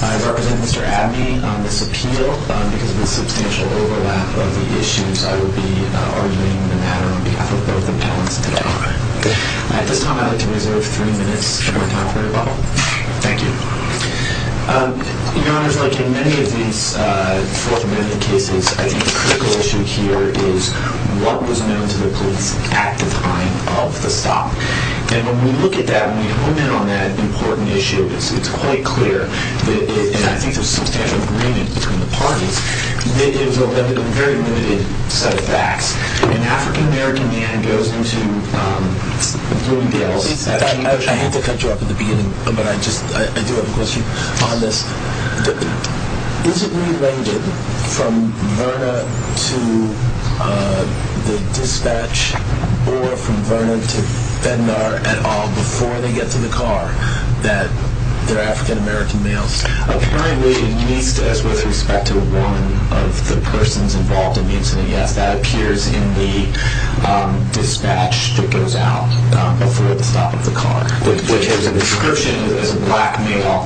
I represent Mr. Abney on this appeal because of the substantial overlap of the issues I will be arguing the matter on behalf of both the parents and the daughter. At this time I would like to reserve three minutes for my time for rebuttal. Thank you. Your Honor, like in many of these Fourth Amendment cases, I think the critical issue here is that it's a stop. And when we look at that, when we hone in on that important issue, it's quite clear that, and I think there's substantial agreement between the parties, that it's a very limited set of facts. An African-American man goes into Bloomingdale's... I hate to cut you off at the beginning, but I do have a question on this. Is it related from Verna to the dispatch or from Verna to Bednar at all before they get to the car that they're African-American males? Apparently, at least as with respect to one of the persons involved in the incident, yes, that appears in the dispatch that goes out before the stop of the car. Which has a description as a black male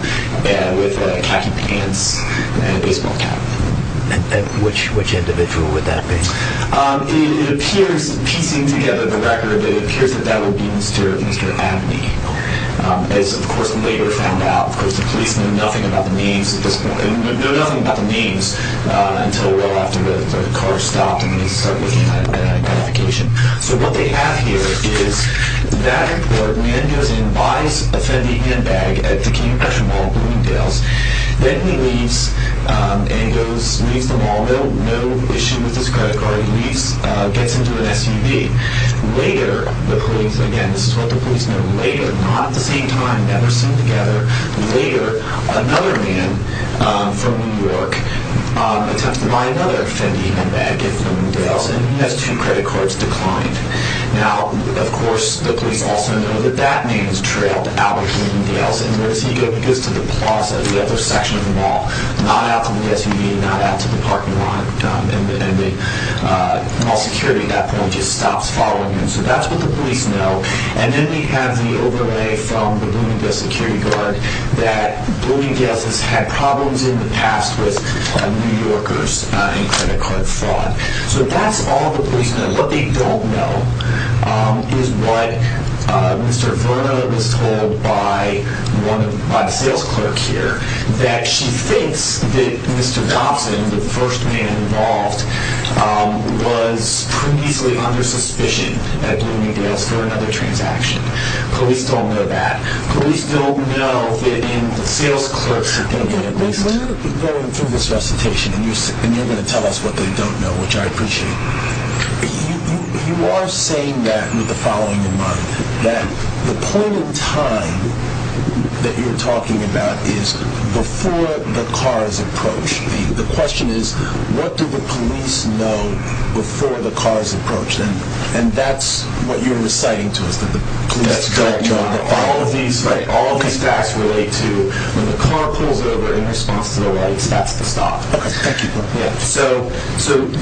with khaki pants and a black tie. I'm not sure. I'm not sure. I'm not sure. I'm not sure. I'm not sure. Black male with khaki pants and a baseball cap. And which individual would that be? It appears, piecing together the record, it appears that that would be Mr. Abney. As of course, later found out. The police know nothing about the names until well after the car stopped and they started looking at identification. So what they have here is that important. A man goes and buys a Fendi handbag at the Cane and Crutch Mall in Bloomingdale's, then he leaves and goes, leaves the mall, no issue with his credit card, he leaves, gets into an SUV. Later, the police, again this is what the police know, later, not at the same time, never seen together, later, another man from New York attempts to buy another Fendi handbag in Bloomingdale's and he has two credit cards declined. Now, of course, the police also know that that man is trailed out of Bloomingdale's and once he gets to the plaza, the other section of the mall, not out to the SUV, not out to the parking lot, and the mall security at that point just stops following him. So that's what the police know. And then we have the overlay from the Bloomingdale's security guard that Bloomingdale's has had problems in the past with New Yorkers and credit card fraud. So that's all the police know. What they don't know is what Mr. Verna was told by the sales clerk here, that she thinks that Mr. Thompson, the first man involved, was previously under suspicion at Bloomingdale's for another transaction. Police don't know that. Police don't know that in the sales clerk's opinion, at least. When you're going through this recitation and you're going to tell us what they don't know, which I appreciate, you are saying that with the following in mind. That the point in time that you're talking about is before the cars approach. The question is, what do the police know before the cars approach? And that's what you're reciting to us, that the police don't know. All of these facts relate to when the car pulls over in response to the lights, that's the stop. Okay, thank you. So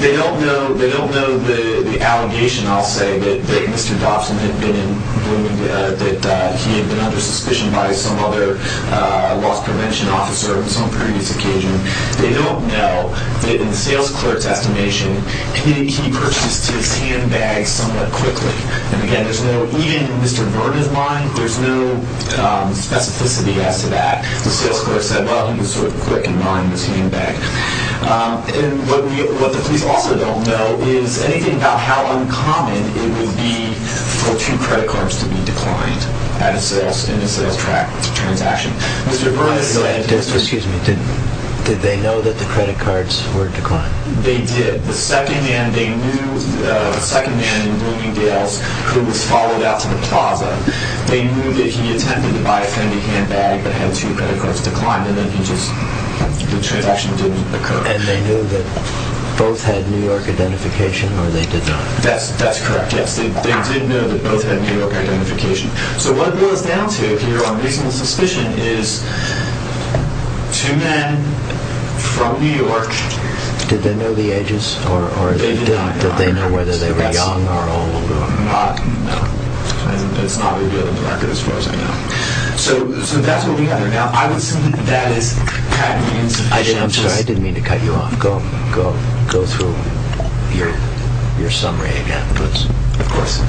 they don't know the allegation, I'll say, that Mr. Thompson had been in Bloomingdale's, that he had been under suspicion by some other loss prevention officer on some previous occasion. They don't know that in the sales clerk's estimation, he purchased his handbags somewhat quickly. And again, even in Mr. Vernon's mind, there's no specificity as to that. The sales clerk said, well, he was sort of quick in buying his handbag. And what the police also don't know is anything about how uncommon it would be for two credit cards to be declined in a sales transaction. Mr. Vernon said... Excuse me, did they know that the credit cards were declined? They did. The second man in Bloomingdale's who was followed out to the plaza, they knew that he attempted to buy a Fendi handbag but had two credit cards declined, and then the transaction didn't occur. And they knew that both had New York identification, or they did not? That's correct, yes. They did know that both had New York identification. So what it boils down to here on reasonable suspicion is two men from New York... Did they know the ages, or did they know whether they were young or old? No. It's not revealed in the record as far as I know. So that's what we have right now. I would assume that is kind of insufficient. I'm sorry, I didn't mean to cut you off. Go through your summary again. Of course.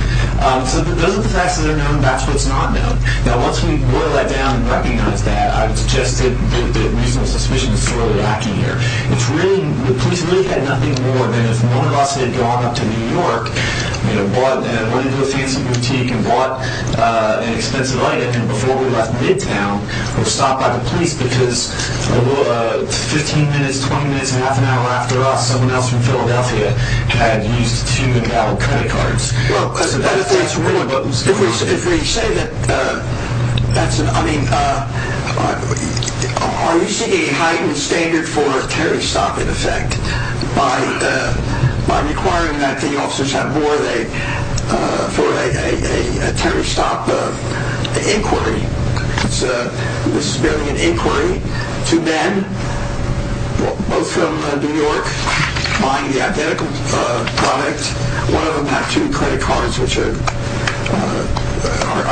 So those are the facts that are known. That's what's not known. Now, once we boil that down and recognize that, I would suggest that reasonable suspicion is really lacking here. The police really had nothing more than if one of us had gone up to New York and went into a fancy boutique and bought an expensive item, and before we left midtown was stopped by the police because 15 minutes, 20 minutes, half an hour after us, someone else from Philadelphia had used two of our credit cards. Well, if we say that that's an... I mean, are you seeing a heightened standard for a tariff stop in effect by requiring that the officers have more for a tariff stop inquiry? This is building an inquiry to men, both from New York, buying the identical product. One of them had two credit cards, which are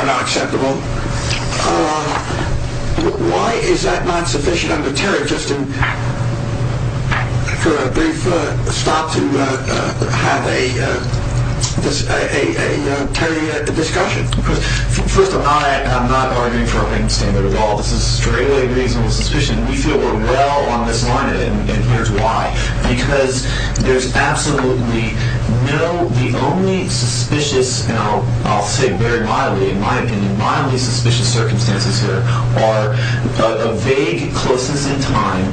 not acceptable. Why is that not sufficient under tariff just for a brief stop to have a tariff discussion? First of all, I am not arguing for a heightened standard at all. This is really reasonable suspicion. We feel we're well on this line, and here's why. Because there's absolutely no... The only suspicious, and I'll say very mildly, in my opinion, mildly suspicious circumstances here are a vague closeness in time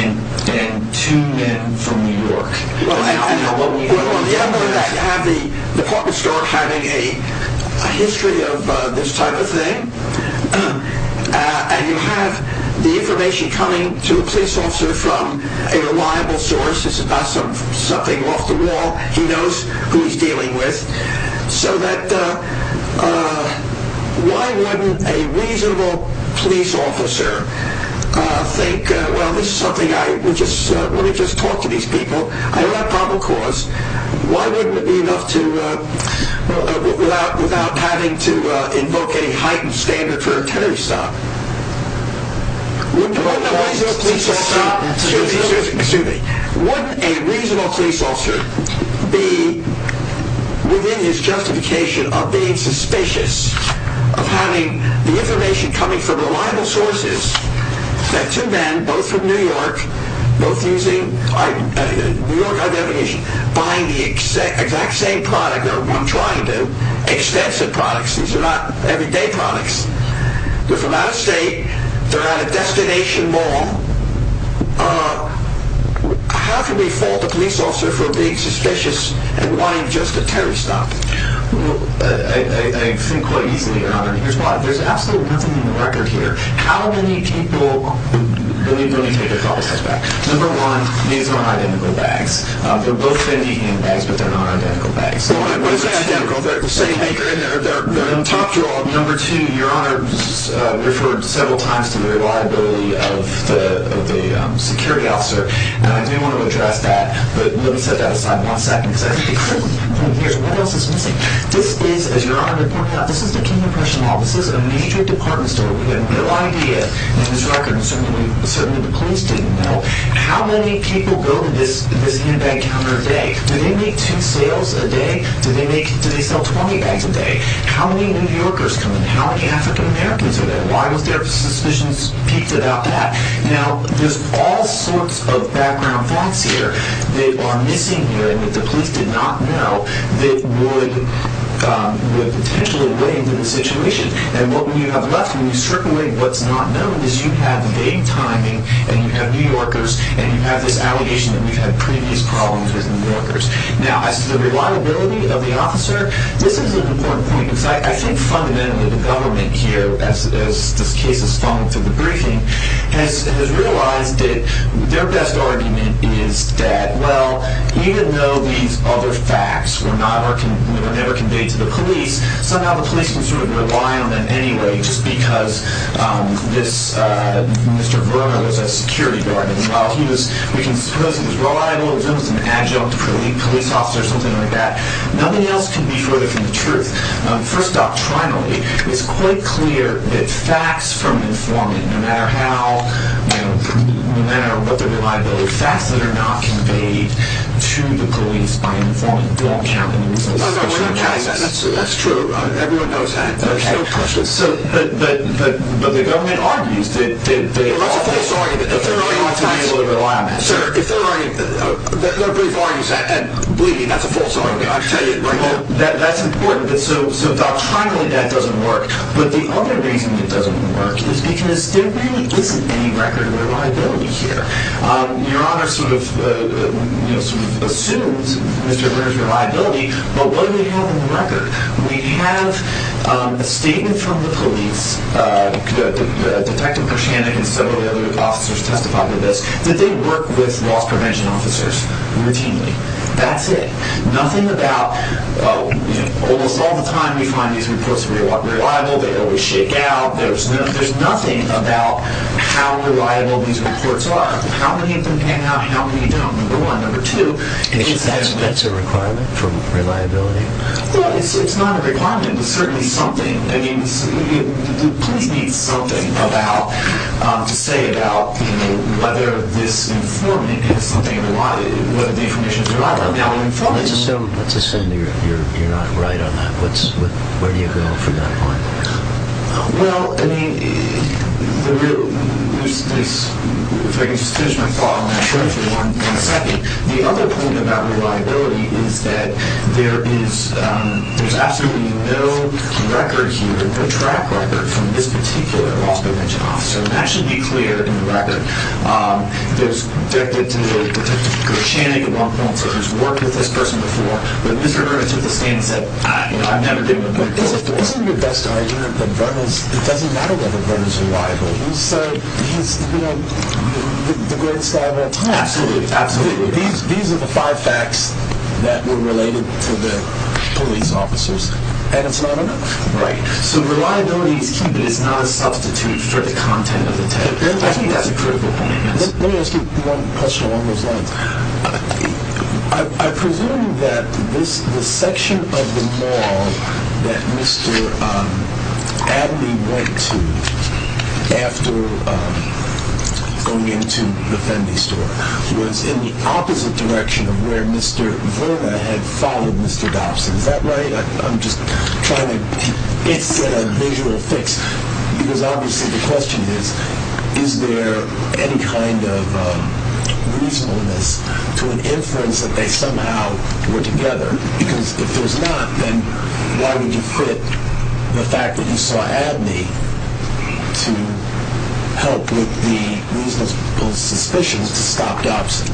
and two men from New York. Well, on the other hand, you have the department store having a history of this type of thing, and you have the information coming to a police officer from a reliable source. It's about something off the wall. He knows who he's dealing with. So that... Why wouldn't a reasonable police officer think, well, this is something I would just... Let me just talk to these people. I don't have problem cause. Why wouldn't it be enough to... Without having to invoke any heightened standard for a tariff stop. Wouldn't a reasonable police officer... Excuse me. Wouldn't a reasonable police officer be within his justification of being suspicious of having the information coming from reliable sources that two men, both from New York, both using New York identification, buying the exact same product that I'm trying to, expensive products. These are not everyday products. They're from out of state. They're at a destination mall. How can we fault a police officer for being suspicious and wanting just a tariff stop? I think quite easily, Robert. There's absolutely nothing in the record here. How many people... Let me take a couple steps back. Number one, these are not identical bags. They're both Fendi handbags, but they're not identical bags. They're not identical. They're the same thing. They're in the top drawer. Number two, Your Honor referred several times to the reliability of the security officer. And I do want to address that. But let me set that aside for one second. What else is missing? This is, as Your Honor pointed out, this is the King of Prussian Mall. This is a major department store. We have no idea in this record, and certainly the police didn't know, how many people go to this handbag counter a day. Do they make two sales a day? Do they sell 20 bags a day? How many New Yorkers come in? How many African Americans are there? Why was there a suspicion peaked about that? Now, there's all sorts of background facts here that are missing here that the police did not know that would potentially weigh into the situation. And what you have left, when you circle in what's not known, is you have vague timing, and you have New Yorkers, and you have this allegation that we've had previous problems with New Yorkers. Now, as to the reliability of the officer, this is an important point, because I think fundamentally the government here, as this case has fallen through the briefing, has realized that their best argument is that, well, even though these other facts were never conveyed to the police, somehow the police can sort of rely on them anyway, just because this Mr. Verma was a security guard, and while he was, we can suppose, he was reliable, he was almost an adjunct police officer or something like that. Nothing else can be further from the truth. First doctrinally, it's quite clear that facts from informant, no matter how, no matter what their reliability, facts that are not conveyed to the police by an informant don't count. No, no, we're not counting that. That's true. Everyone knows that. There's no question. But the government argues that they are. Well, that's a false argument. If they're arguing to be able to rely on that, sure. Sir, if they're arguing, their brief argument is that, and believe me, that's a false argument, I can tell you right now. Well, that's important, but so doctrinally that doesn't work. But the other reason it doesn't work is because there really isn't any record of reliability here. Your Honor sort of assumes Mr. Brewer's reliability, but what do we have in the record? We have a statement from the police, Detective Krushanek and some of the other officers testified to this, that they work with loss prevention officers routinely. That's it. Nothing about, almost all the time we find these reports reliable, they always shake out, there's nothing about how reliable these reports are, how many of them hang out, how many don't. Number one. Number two. That's a requirement for reliability? Well, it's not a requirement, but certainly something. I mean, the police need something to say about whether this information is reliable. Let's assume you're not right on that. Where do you go from that point? Well, I mean, there's this, if I can just finish my thought on that briefly, one second. The other point about reliability is that there is, there's absolutely no record here, no track record from this particular loss prevention officer. And that should be clear in the record. There's, Detective Krushanek at one point said, he's worked with this person before, but Mr. Brewer took a stand and said, I've never been with him before. Isn't your best argument that it doesn't matter whether the report is reliable? He's the greatest guy of all time. Absolutely. Absolutely. These are the five facts that were related to the police officers, and it's not enough. Right. So reliability is key, but it's not a substitute for the content of the tape. I think that's a critical point. Let me ask you one question along those lines. I presume that the section of the mall that Mr. Adley went to after going into the Fendi store was in the opposite direction of where Mr. Verna had followed Mr. Dobson. Is that right? I'm just trying to get a visual fix, because obviously the question is, is there any kind of reasonableness to an inference that they somehow were together? Because if there's not, then why would you fit the fact that you saw Adley to help with the reasonable suspicions to stop Dobson?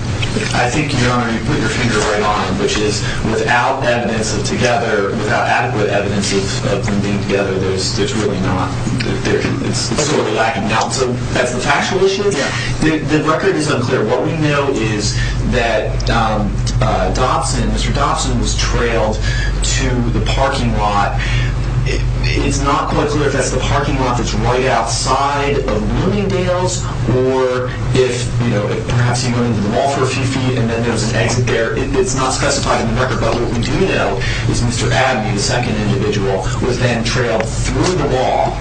I think, Your Honor, you put your finger right on it, which is without evidence of together, without adequate evidence of them being together, there's really not. It's sort of lacking now. So that's the factual issue? Yeah. The record is unclear. What we know is that Dobson, Mr. Dobson, was trailed to the parking lot. It's not quite clear if that's the parking lot that's right outside of Bloomingdale's, or if perhaps he went into the mall for a few feet and then there was an exit there. It's not specified in the record. But what we do know is Mr. Adley, the second individual, was then trailed through the mall,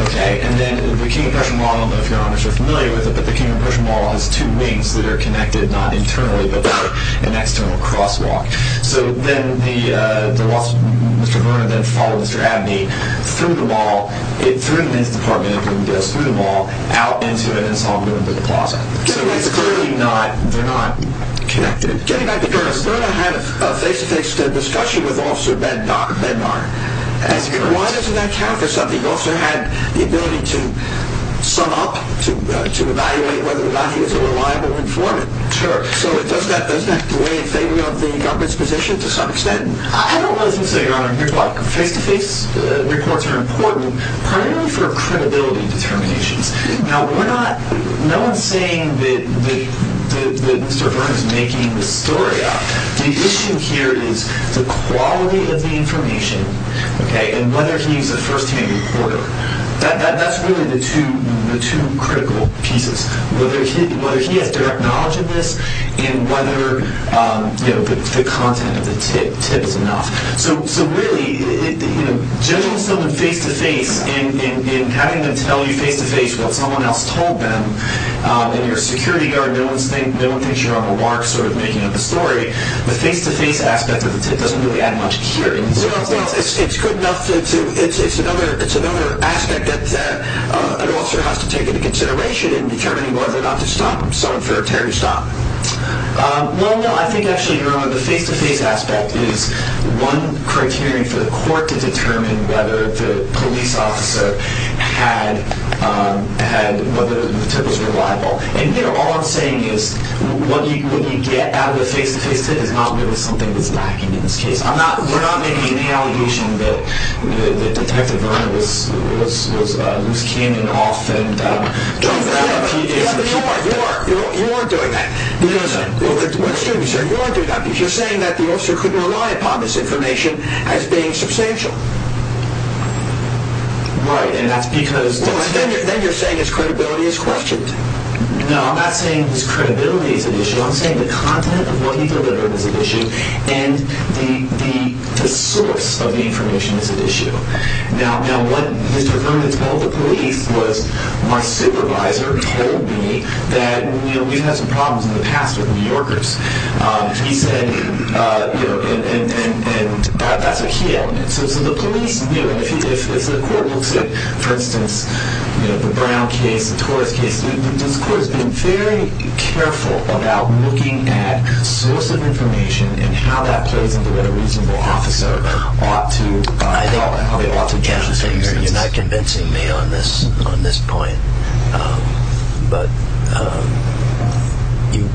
okay? And then the King and Pershing Mall, I don't know if Your Honor is familiar with it, but the King and Pershing Mall has two wings that are connected, not internally, but they're an external crosswalk. So then Mr. Verna then followed Mr. Adley through the mall, through the men's department of Bloomingdale's, through the mall, out into it, and saw him go into the closet. So it's clearly not connected. Getting back to Curtis, Verna had a face-to-face discussion with Officer Bednar. Why doesn't that count for something? He also had the ability to sum up, to evaluate whether or not he was a reliable informant. Sure. So does that weigh in favor of the government's position to some extent? I don't know what to say, Your Honor. Face-to-face reports are important primarily for credibility determinations. Now, we're not... No one's saying that Mr. Verna's making this story up. The issue here is the quality of the information, and whether he's a first-hand reporter. That's really the two critical pieces, whether he has direct knowledge of this and whether the content of the tip is enough. So really judging someone face-to-face and having them tell you face-to-face what someone else told them in your security guard, no one thinks you're on the mark sort of making up a story. The face-to-face aspect of the tip doesn't really add much here. Well, it's good enough to... It's another aspect that an officer has to take into consideration in determining whether or not to stop someone for a terrorist op. Well, no. I think, actually, Your Honor, the face-to-face aspect is one criteria for the court to determine whether the police officer had... whether the tip was reliable. And, you know, all I'm saying is what you get out of the face-to-face tip is not really something that's lacking in this case. We're not making any allegation that Detective Verna was loose-cannoning off and... Don't say that. You are. You are. You are doing that. Because... You are doing that because you're saying that the officer couldn't rely upon this information as being substantial. Right. And that's because... Then you're saying his credibility is questioned. No, I'm not saying his credibility is at issue. I'm saying the content of what he delivered is at issue and the source of the information is at issue. Now, what Mr. Verna told the police was, my supervisor told me that, you know, we've had some problems in the past with New Yorkers. He said, you know, and that's a key element. So the police... If the court looks at, for instance, you know, the Brown case, the Torres case, this court has been very careful about looking at source of information and how that plays into whether a reasonable officer ought to... I think you're not convincing me on this point. But you...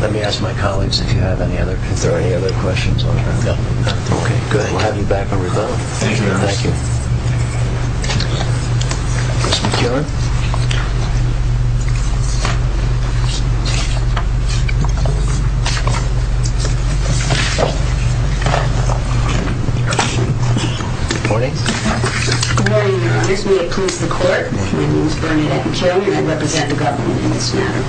Let me ask my colleagues if you have any other... if there are any other questions. Okay, good. I'll have you back when we're done. Thank you, Your Honor. Thank you. Ms. McKeown. Good morning. Good morning, Your Honors. We oppose the court. My name is Bernadette McKeown and I represent the government in this matter.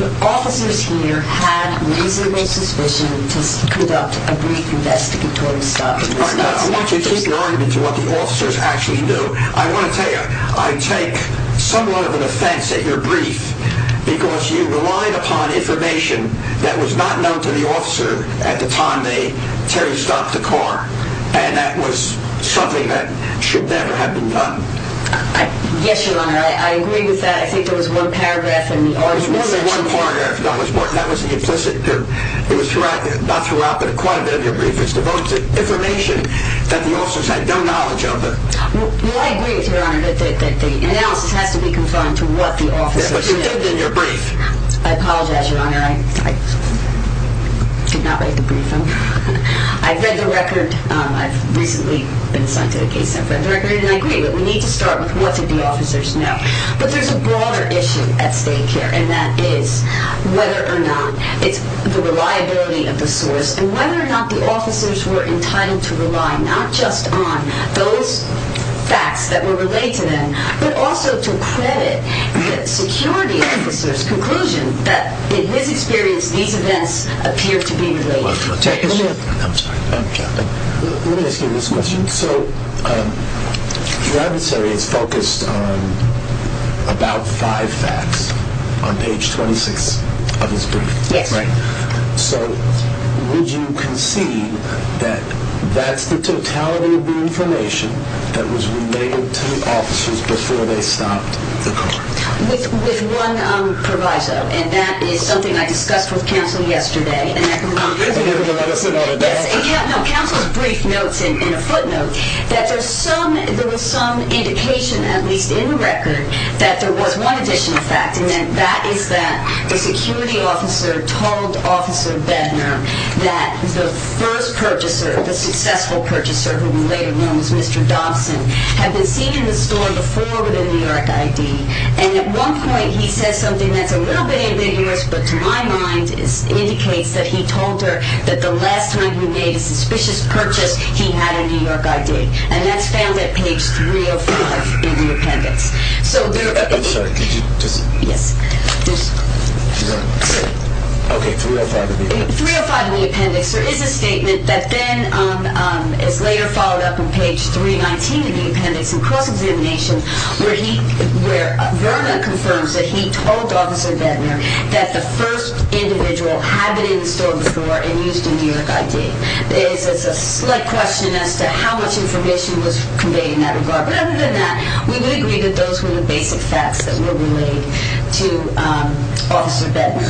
The officers here had reasonable suspicion to conduct a brief investigatory stop. I want you to keep your argument to what the officers actually do. I want to tell you, I take somewhat of an offense at your brief because you relied upon information that was not known to the officer at the time that Terry stopped the car and that was something that should never have been done. Yes, Your Honor. I agree with that. I think there was one paragraph in the argument... There was more than one paragraph. That was the implicit... It was not throughout, but quite a bit of your brief. It's devoted to information that the officers had no knowledge of. Well, I agree with you, Your Honor, that the analysis has to be confined to what the officers did. But you did it in your brief. I apologize, Your Honor. I did not write the brief down. I've read the record. I've recently been assigned to a case. I've read the record and I agree with it. We need to start with what did the officers know. But there's a broader issue at stake here and that is whether or not it's the reliability of the source and whether or not the officers were entitled to rely not just on those facts that were relayed to them but also to credit the security officer's conclusion that, in his experience, these events appear to be related. Let me ask you this question. So your adversary is focused on about five facts on page 26 of his brief, right? Yes. So would you concede that that's the totality of the information that was relayed to the officers before they stopped the car? With one proviso, and that is something I discussed with counsel yesterday. And I completely disagree. Yes. Counsel's brief notes in a footnote that there was some indication, at least in the record, that there was one additional fact and that is that the security officer told Officer Bednar that the first purchaser, the successful purchaser, who we'll later know as Mr. Dobson, had been seen in the store before with a New York ID. And at one point he says something that's a little bit ambiguous, but to my mind it indicates that he told her that the last time he made a suspicious purchase he had a New York ID. And that's found at page 305 in the appendix. I'm sorry, could you just... Yes. Okay, 305 in the appendix. 305 in the appendix. There is a statement that then is later followed up on page 319 in the appendix in cross-examination where Verna confirms that he told Officer Bednar that the first individual had been in the store before and used a New York ID. It's a slight question as to how much information was conveyed in that regard, but other than that, we would agree that those were the basic facts that were relayed to Officer Bednar.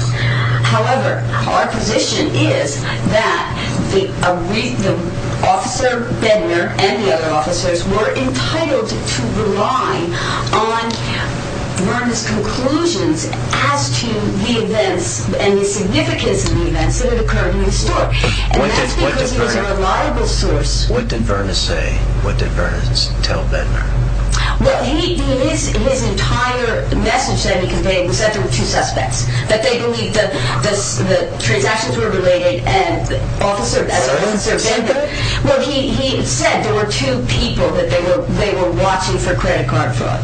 However, our position is that Officer Bednar and the other officers were entitled to rely on Verna's conclusions as to the events and the significance of the events that had occurred in the store. And that's because he was a reliable source. What did Verna say? What did Verna tell Bednar? Well, his entire message that he conveyed was that there were two suspects, that they believed the transactions were related and that Officer Bednar... Well, he said there were two people that they were watching for credit card fraud.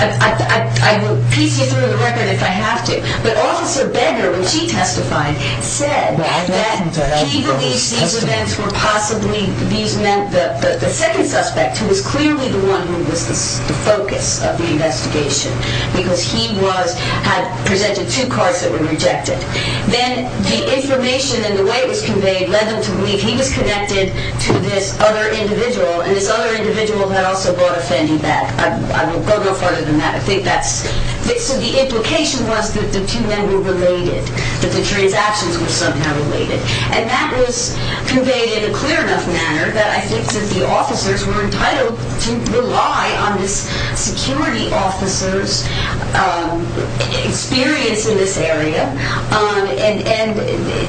I will piece you through the record if I have to, but Officer Bednar, when she testified, said that he believed these events were possibly... These meant the second suspect, who was clearly the one who was the focus of the investigation because he had presented two cards that were rejected. Then the information and the way it was conveyed led them to believe he was connected to this other individual and this other individual had also bought a Fendi bag. I won't go no further than that. I think that's... So the implication was that the two men were related, that the transactions were somehow related. And that was conveyed in a clear enough manner that I think that the officers were entitled to rely on this security officer's experience in this area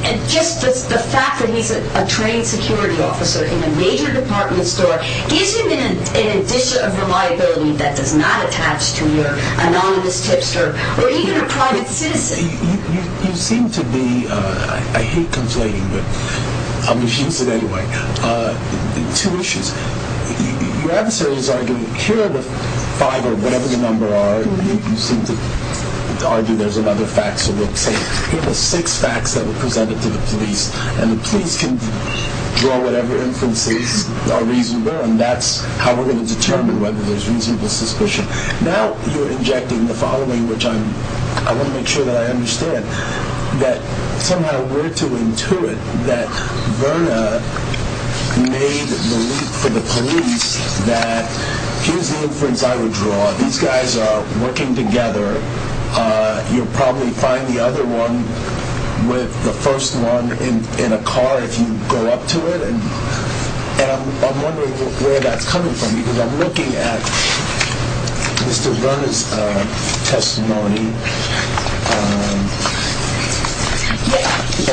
and just the fact that he's a trained security officer in a major department store gives him an addition of reliability that does not attach to your anonymous tipster or even a private citizen. You seem to be... I hate conflating, but I'm going to use it anyway. Two issues. Your adversary is arguing... Here are the five or whatever the number are. You seem to argue there's another fact, so we'll say here are the six facts that were presented to the police and the police can draw whatever inferences are reasonable and that's how we're going to determine whether there's reasonable suspicion. Now you're injecting the following, which I want to make sure that I understand, that somehow we're to intuit that Verna made the leap for the police that here's the inference I would draw. These guys are working together. You'll probably find the other one with the first one in a car if you go up to it, and I'm wondering where that's coming from because I'm looking at Mr. Verna's testimony.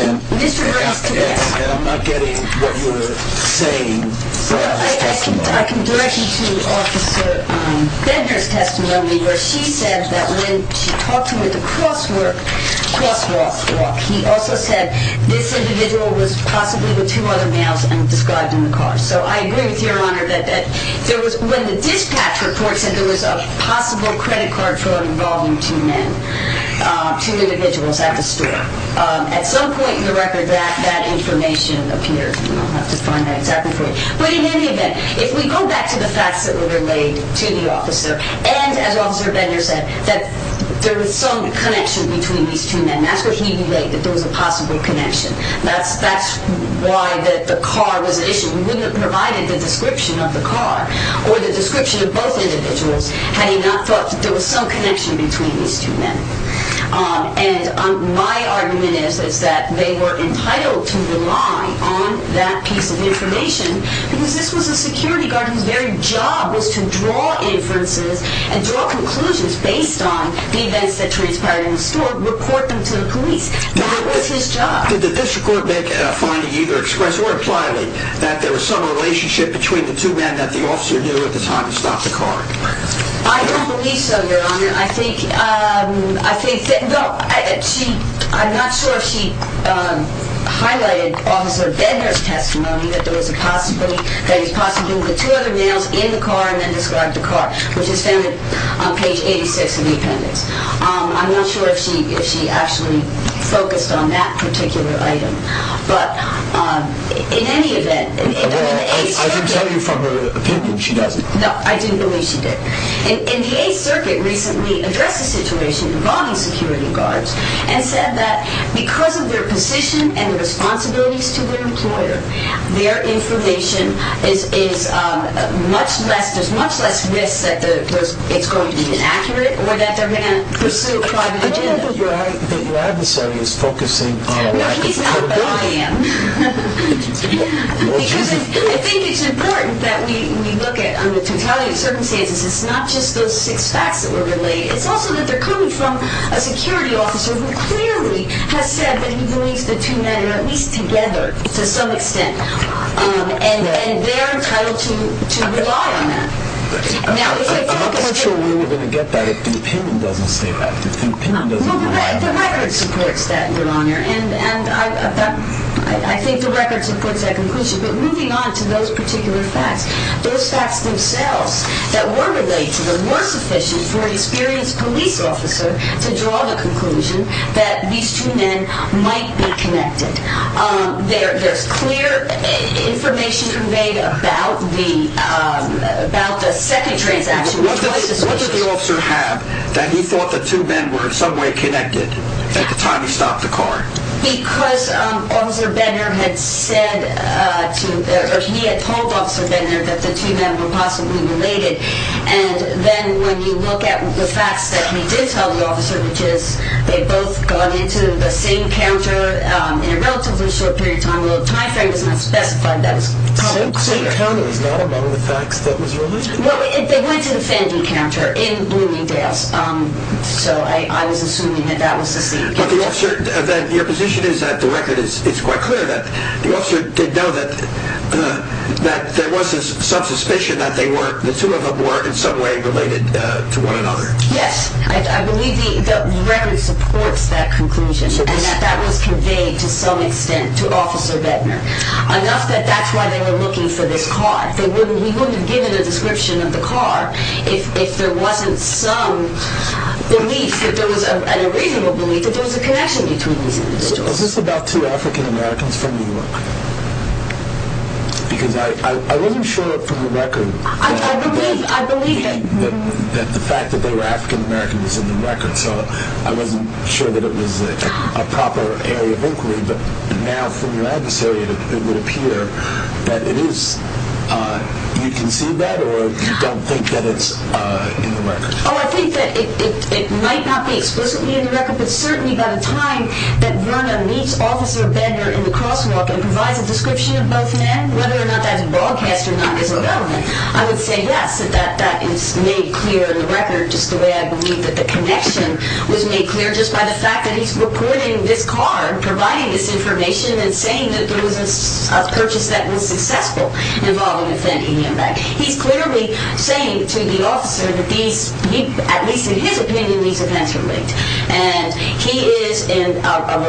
I'm not getting what you're saying from his testimony. I can direct you to Officer Bender's testimony where she said that when she talked to him at the crosswalk, he also said this individual was possibly with two other males and described in the car. So I agree with Your Honor that when the dispatch report said there was a possible credit card fraud involving two men, two individuals at the store, at some point in the record that information appeared. I'll have to find that exactly for you. But in any event, if we go back to the facts that were relayed to the officer and, as Officer Bender said, that there was some connection between these two men, that's what he relayed, that there was a possible connection. That's why the car was an issue. We wouldn't have provided the description of the car or the description of both individuals had he not thought that there was some connection between these two men. Because this was a security guard whose very job was to draw inferences and draw conclusions based on the events that Therese Pryor and the store report them to the police. That was his job. Did the district court make a finding either expressly or impliedly that there was some relationship between the two men that the officer knew at the time to stop the car? I don't believe so, Your Honor. I think that, no, I'm not sure if she highlighted in Officer Bender's testimony that there was a possibility that he was possibly with two other males in the car and then described the car, which is found on page 86 of the appendix. I'm not sure if she actually focused on that particular item. But, in any event... I didn't tell you from her opinion she doesn't. No, I didn't believe she did. And the Eighth Circuit recently addressed the situation involving security guards and said that because of their position and the responsibilities to their employer, their information is much less, there's much less risk that it's going to be inaccurate or that they're going to pursue a private agenda. I don't know that your adversary is focusing on a lack of credibility. No, he's not, but I am. Because I think it's important that we look at, under totality of circumstances, it's not just those six facts that were relayed. It's also that they're coming from a security officer who clearly has said that he believes the two men are at least together to some extent. And they're entitled to rely on that. I'm not sure where we're going to get that if the opinion doesn't state that. The record supports that, Your Honor. And I think the record supports that conclusion. But moving on to those particular facts, those facts themselves that were relayed to them by source officials or an experienced police officer to draw the conclusion that these two men might be connected. There's clear information conveyed about the second transaction. What did the officer have that he thought the two men were in some way connected at the time he stopped the car? Because Officer Benner had said to, or he had told Officer Benner that the two men were possibly related. And then when you look at the facts that he did tell the officer, which is they both got into the same counter in a relatively short period of time. Well, the time frame doesn't have specified that. The same counter is not among the facts that was relayed? They went to the Fandy counter in Bloomingdale's. So I was assuming that that was the same counter. But the officer, your position is that the record is quite clear that the officer did know that there was some suspicion that the two of them were in some way related to one another. Yes, I believe the record supports that conclusion and that that was conveyed to some extent to Officer Benner. Enough that that's why they were looking for this car. We wouldn't have given a description of the car if there wasn't some belief, and a reasonable belief, that there was a connection between these individuals. Is this about two African-Americans from New York? Because I wasn't sure from the record. I believe it. The fact that they were African-Americans is in the record, so I wasn't sure that it was a proper area of inquiry. But now from your adversary, it would appear that it is. You concede that, or you don't think that it's in the record? Oh, I think that it might not be explicitly in the record, but certainly by the time that Verna meets Officer Benner in the crosswalk and provides a description of both men, whether or not that's broadcast or not is irrelevant. I would say, yes, that that is made clear in the record, just the way I believe that the connection was made clear, just by the fact that he's reporting this car, providing this information, and saying that there was a purchase that was successful involved in offending him. He's clearly saying to the officer that these, at least in his opinion, these events relate, and he is a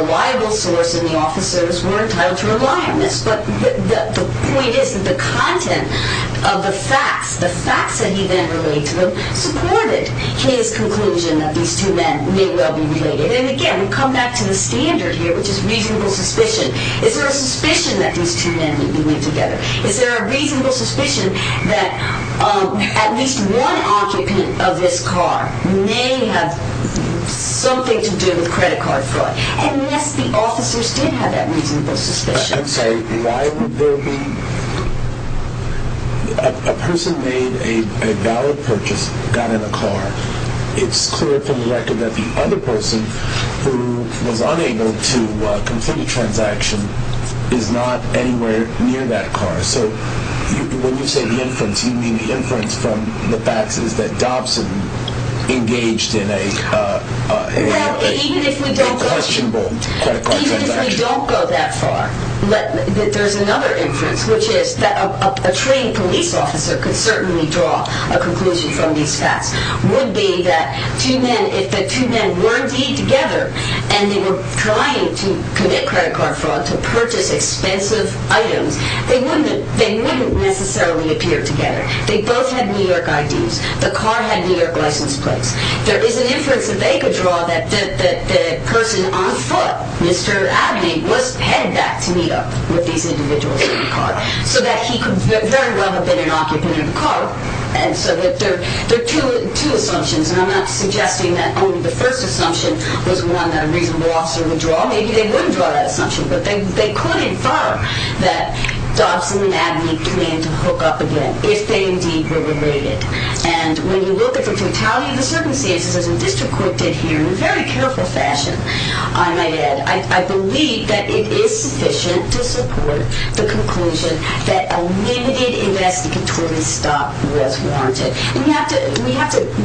reliable source, and the officers were entitled to rely on this. But the point is that the content of the facts, the facts that he then relayed to them, supported his conclusion that these two men may well be related. And again, we come back to the standard here, which is reasonable suspicion. Is there a suspicion that these two men may be linked together? Is there a reasonable suspicion that at least one occupant of this car may have something to do with credit card fraud? Unless the officers did have that reasonable suspicion. I'm sorry, why would there be? A person made a valid purchase, got in a car. It's clear from the record that the other person who was unable to complete a transaction is not anywhere near that car. So when you say the inference, you mean the inference from the facts is that Dobson engaged in a questionable credit card transaction? Even if we don't go that far, there's another inference, which is that a trained police officer could certainly draw a conclusion from these facts, would be that if the two men were indeed together and they were trying to commit credit card fraud to purchase expensive items, they wouldn't necessarily appear together. They both had New York IDs. The car had New York license plates. There is an inference that they could draw that the person on foot, Mr. Abney, was headed back to meet up with these individuals in the car so that he could very well have been an occupant of the car. There are two assumptions, and I'm not suggesting that only the first assumption was one that a reasonable officer would draw. Maybe they wouldn't draw that assumption, but they could infer that Dobson and Abney came to hook up again. If they indeed were related. And when you look at the totality of the circumstances, as the district court did here in a very careful fashion, I might add, I believe that it is sufficient to support the conclusion that a limited investigatory stop was warranted. We have to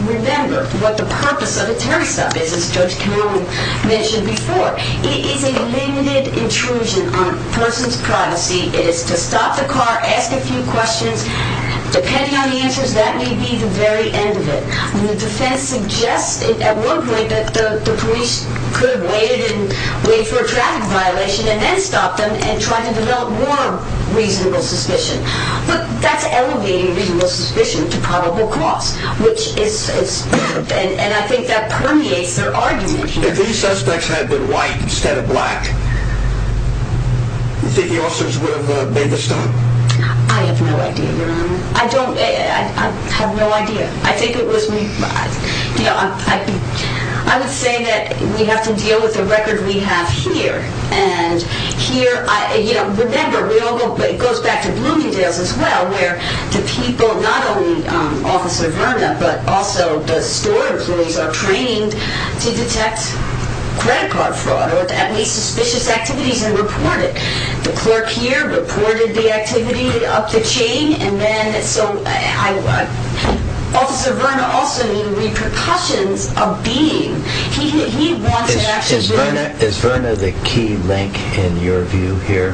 remember what the purpose of a terror stop is, as Judge Cameron mentioned before. It is a limited intrusion on a person's privacy. It is to stop the car, ask a few questions. Depending on the answers, that may be the very end of it. The defense suggests at one point that the police could have waited and waited for a traffic violation and then stopped them and tried to develop more reasonable suspicion. But that's elevating reasonable suspicion to probable cause, and I think that permeates their argument here. If these suspects had been white instead of black, do you think the officers would have made the stop? I have no idea, Your Honor. I have no idea. I think it was... I would say that we have to deal with the record we have here. And here, remember, it goes back to Bloomingdale's as well, where the people, not only Officer Verna, but also the store employees are trained to detect credit card fraud or any suspicious activities and report it. The clerk here reported the activity up the chain, and then so I... Officer Verna also knew repercussions of being. He wants to actually... Is Verna the key link in your view here?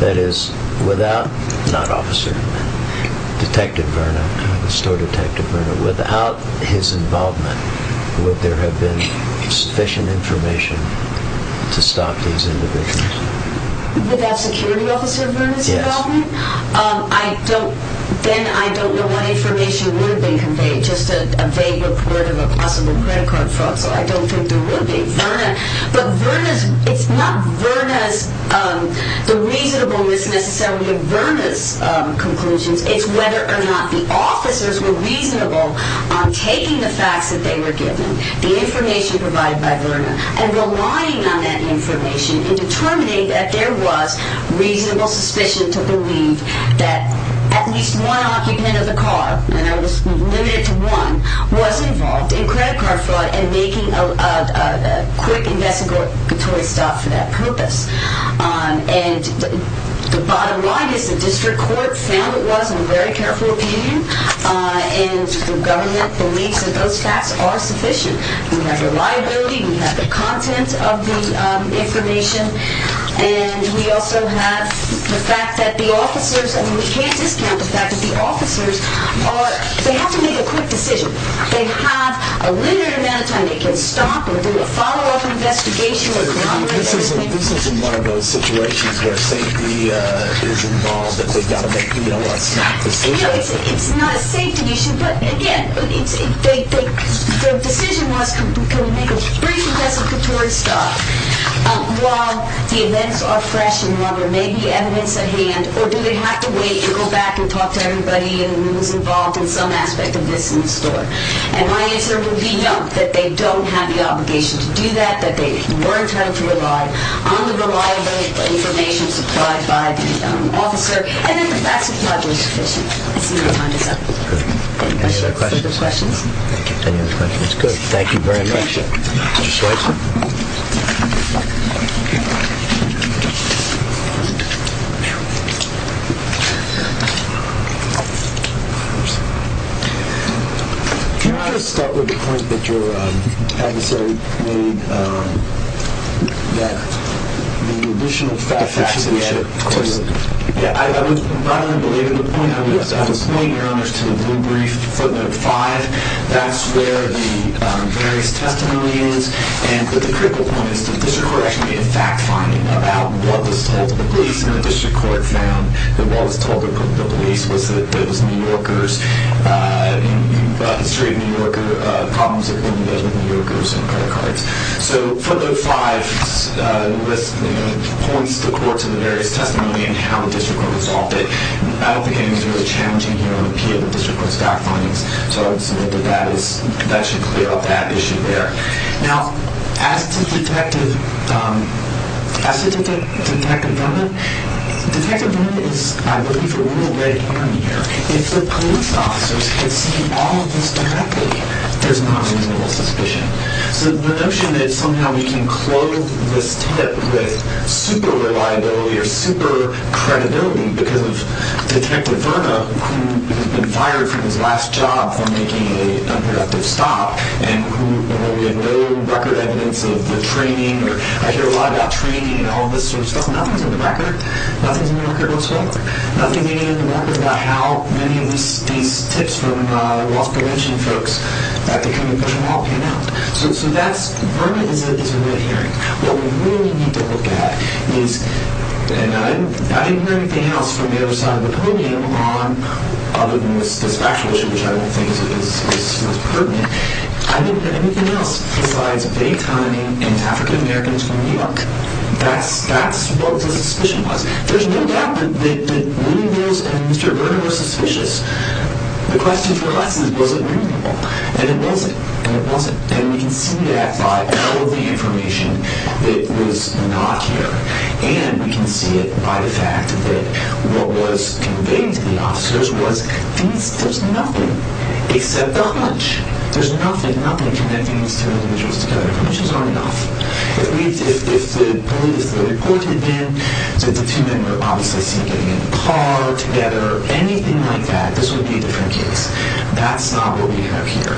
That is, without... not Officer Verna, Detective Verna, the store detective Verna, without his involvement, would there have been sufficient information to stop these individuals? Without Security Officer Verna's involvement? Yes. I don't... then I don't know what information would have been conveyed, just a vague report of a possible credit card fraud, so I don't think there would be. But Verna's... it's not Verna's... the reasonableness necessarily of Verna's conclusions, it's whether or not the officers were reasonable on taking the facts that they were given, the information provided by Verna, and relying on that information in determining that there was reasonable suspicion to believe that at least one occupant of the car, and that was limited to one, was involved in credit card fraud and making a quick investigatory stop for that purpose. And the bottom line is the district court found it was, in very careful opinion, and the government believes that those facts are sufficient. We have reliability, we have the content of the information, and we also have the fact that the officers... I mean, we can't discount the fact that the officers are... they have to make a quick decision. They have a limited amount of time. They can stop or do a follow-up investigation... This isn't one of those situations where safety is involved, that they've got to make, you know, a snap decision. You know, it's not a safety issue, but again, the decision was to make a brief investigatory stop while the events are fresh and there may be evidence at hand, or do they have to wait to go back and talk to everybody who was involved in some aspect of this in the store? And my answer would be no, that they don't have the obligation to do that, that they weren't having to rely on the reliable information supplied by the officer, and then the facts were probably sufficient. I see our time is up. Any other questions? Thank you. Any other questions? Good. Thank you very much, Mr. Schweitzer. Can I just start with the point that your adversary made, that the additional facts that we had... Of course. Yeah, I would rather believe in the point. I would point your honors to the blue brief, footnote 5. That's where the various testimony is, and the critical point is the district court actually did fact-finding about what was told to the police, and the district court found that what was told to the police was that it was New Yorkers, and you've illustrated New Yorker problems with New Yorkers and credit cards. So footnote 5 points the court to the various testimony and how the district court resolved it. I don't think anything is really challenging here on the peer of the district court's fact-findings, so I would submit that that should clear up that issue there. Now, as to the detective... As to the detective permit, the detective permit is... I'm looking for a little red herring here. If the police officers could see all of this directly, there's not a reasonable suspicion. So the notion that somehow we can clothe this tip with super-reliability or super-credibility because of Detective Verna, who has been fired from his last job for making an unproductive stop, and who had no record evidence of the training, or I hear a lot about training and all this sort of stuff. Nothing's on the record. Nothing's on the record whatsoever. Nothing in the record about how many of these tips from the Walsh Convention folks that they couldn't push them off came out. So that's... Verna is a red herring. What we really need to look at is... And I didn't hear anything else from the other side of the podium other than this factual issue, which I don't think is pertinent. I didn't hear anything else besides daytiming and African-Americans from New York. That's what the suspicion was. There's no doubt that William Mills and Mr. Verna were suspicious. The question for us is, was it reasonable? And it wasn't, and it wasn't. And we can see that by all of the information that was not here. And we can see it by the fact that what was conveyed to the officers was there's nothing except the hunch. There's nothing, nothing connecting these two individuals together. The hunches are enough. If the police, the report had been that the two men were obviously seen getting in the car together, anything like that, this would be a different case. That's not what we have here.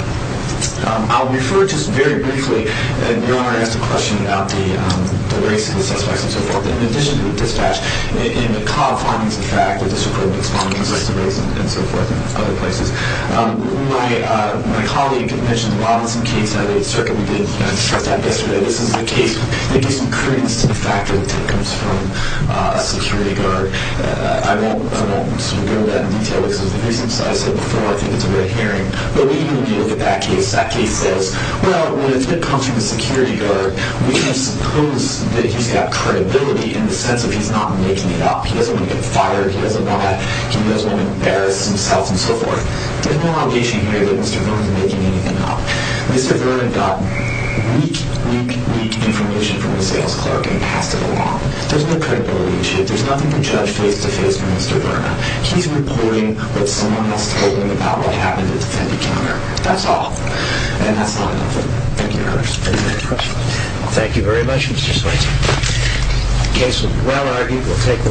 I'll refer just very briefly... Your Honor asked a question about the race of the suspects and so forth. In addition to the dispatch, and the caught findings in fact, the disapproval of the suspects' race and so forth and other places, my colleague mentioned the Robinson case at the circuit we did a test at yesterday. This is a case that gives some credence to the fact that the tip comes from a security guard. I won't go into that in detail because of the reasons I said before. I think it's a red herring. But when you look at that case, that case says, well, when the tip comes from the security guard, we can suppose that he's got credibility in the sense that he's not making it up. He doesn't want to get fired. He doesn't want that. He doesn't want to embarrass himself and so forth. There's no allegation here that Mr. Vernon's making anything up. Mr. Vernon got weak, weak, weak information from the sales clerk and passed it along. There's no credibility issue. There's nothing to judge face-to-face from Mr. Vernon. He's reporting what someone else told him about what happened at the defendant counter. That's all. And that's not enough. Thank you. Thank you very much, Mr. Switzer. The case will be well argued. We'll take the matter under advisement. Thank you.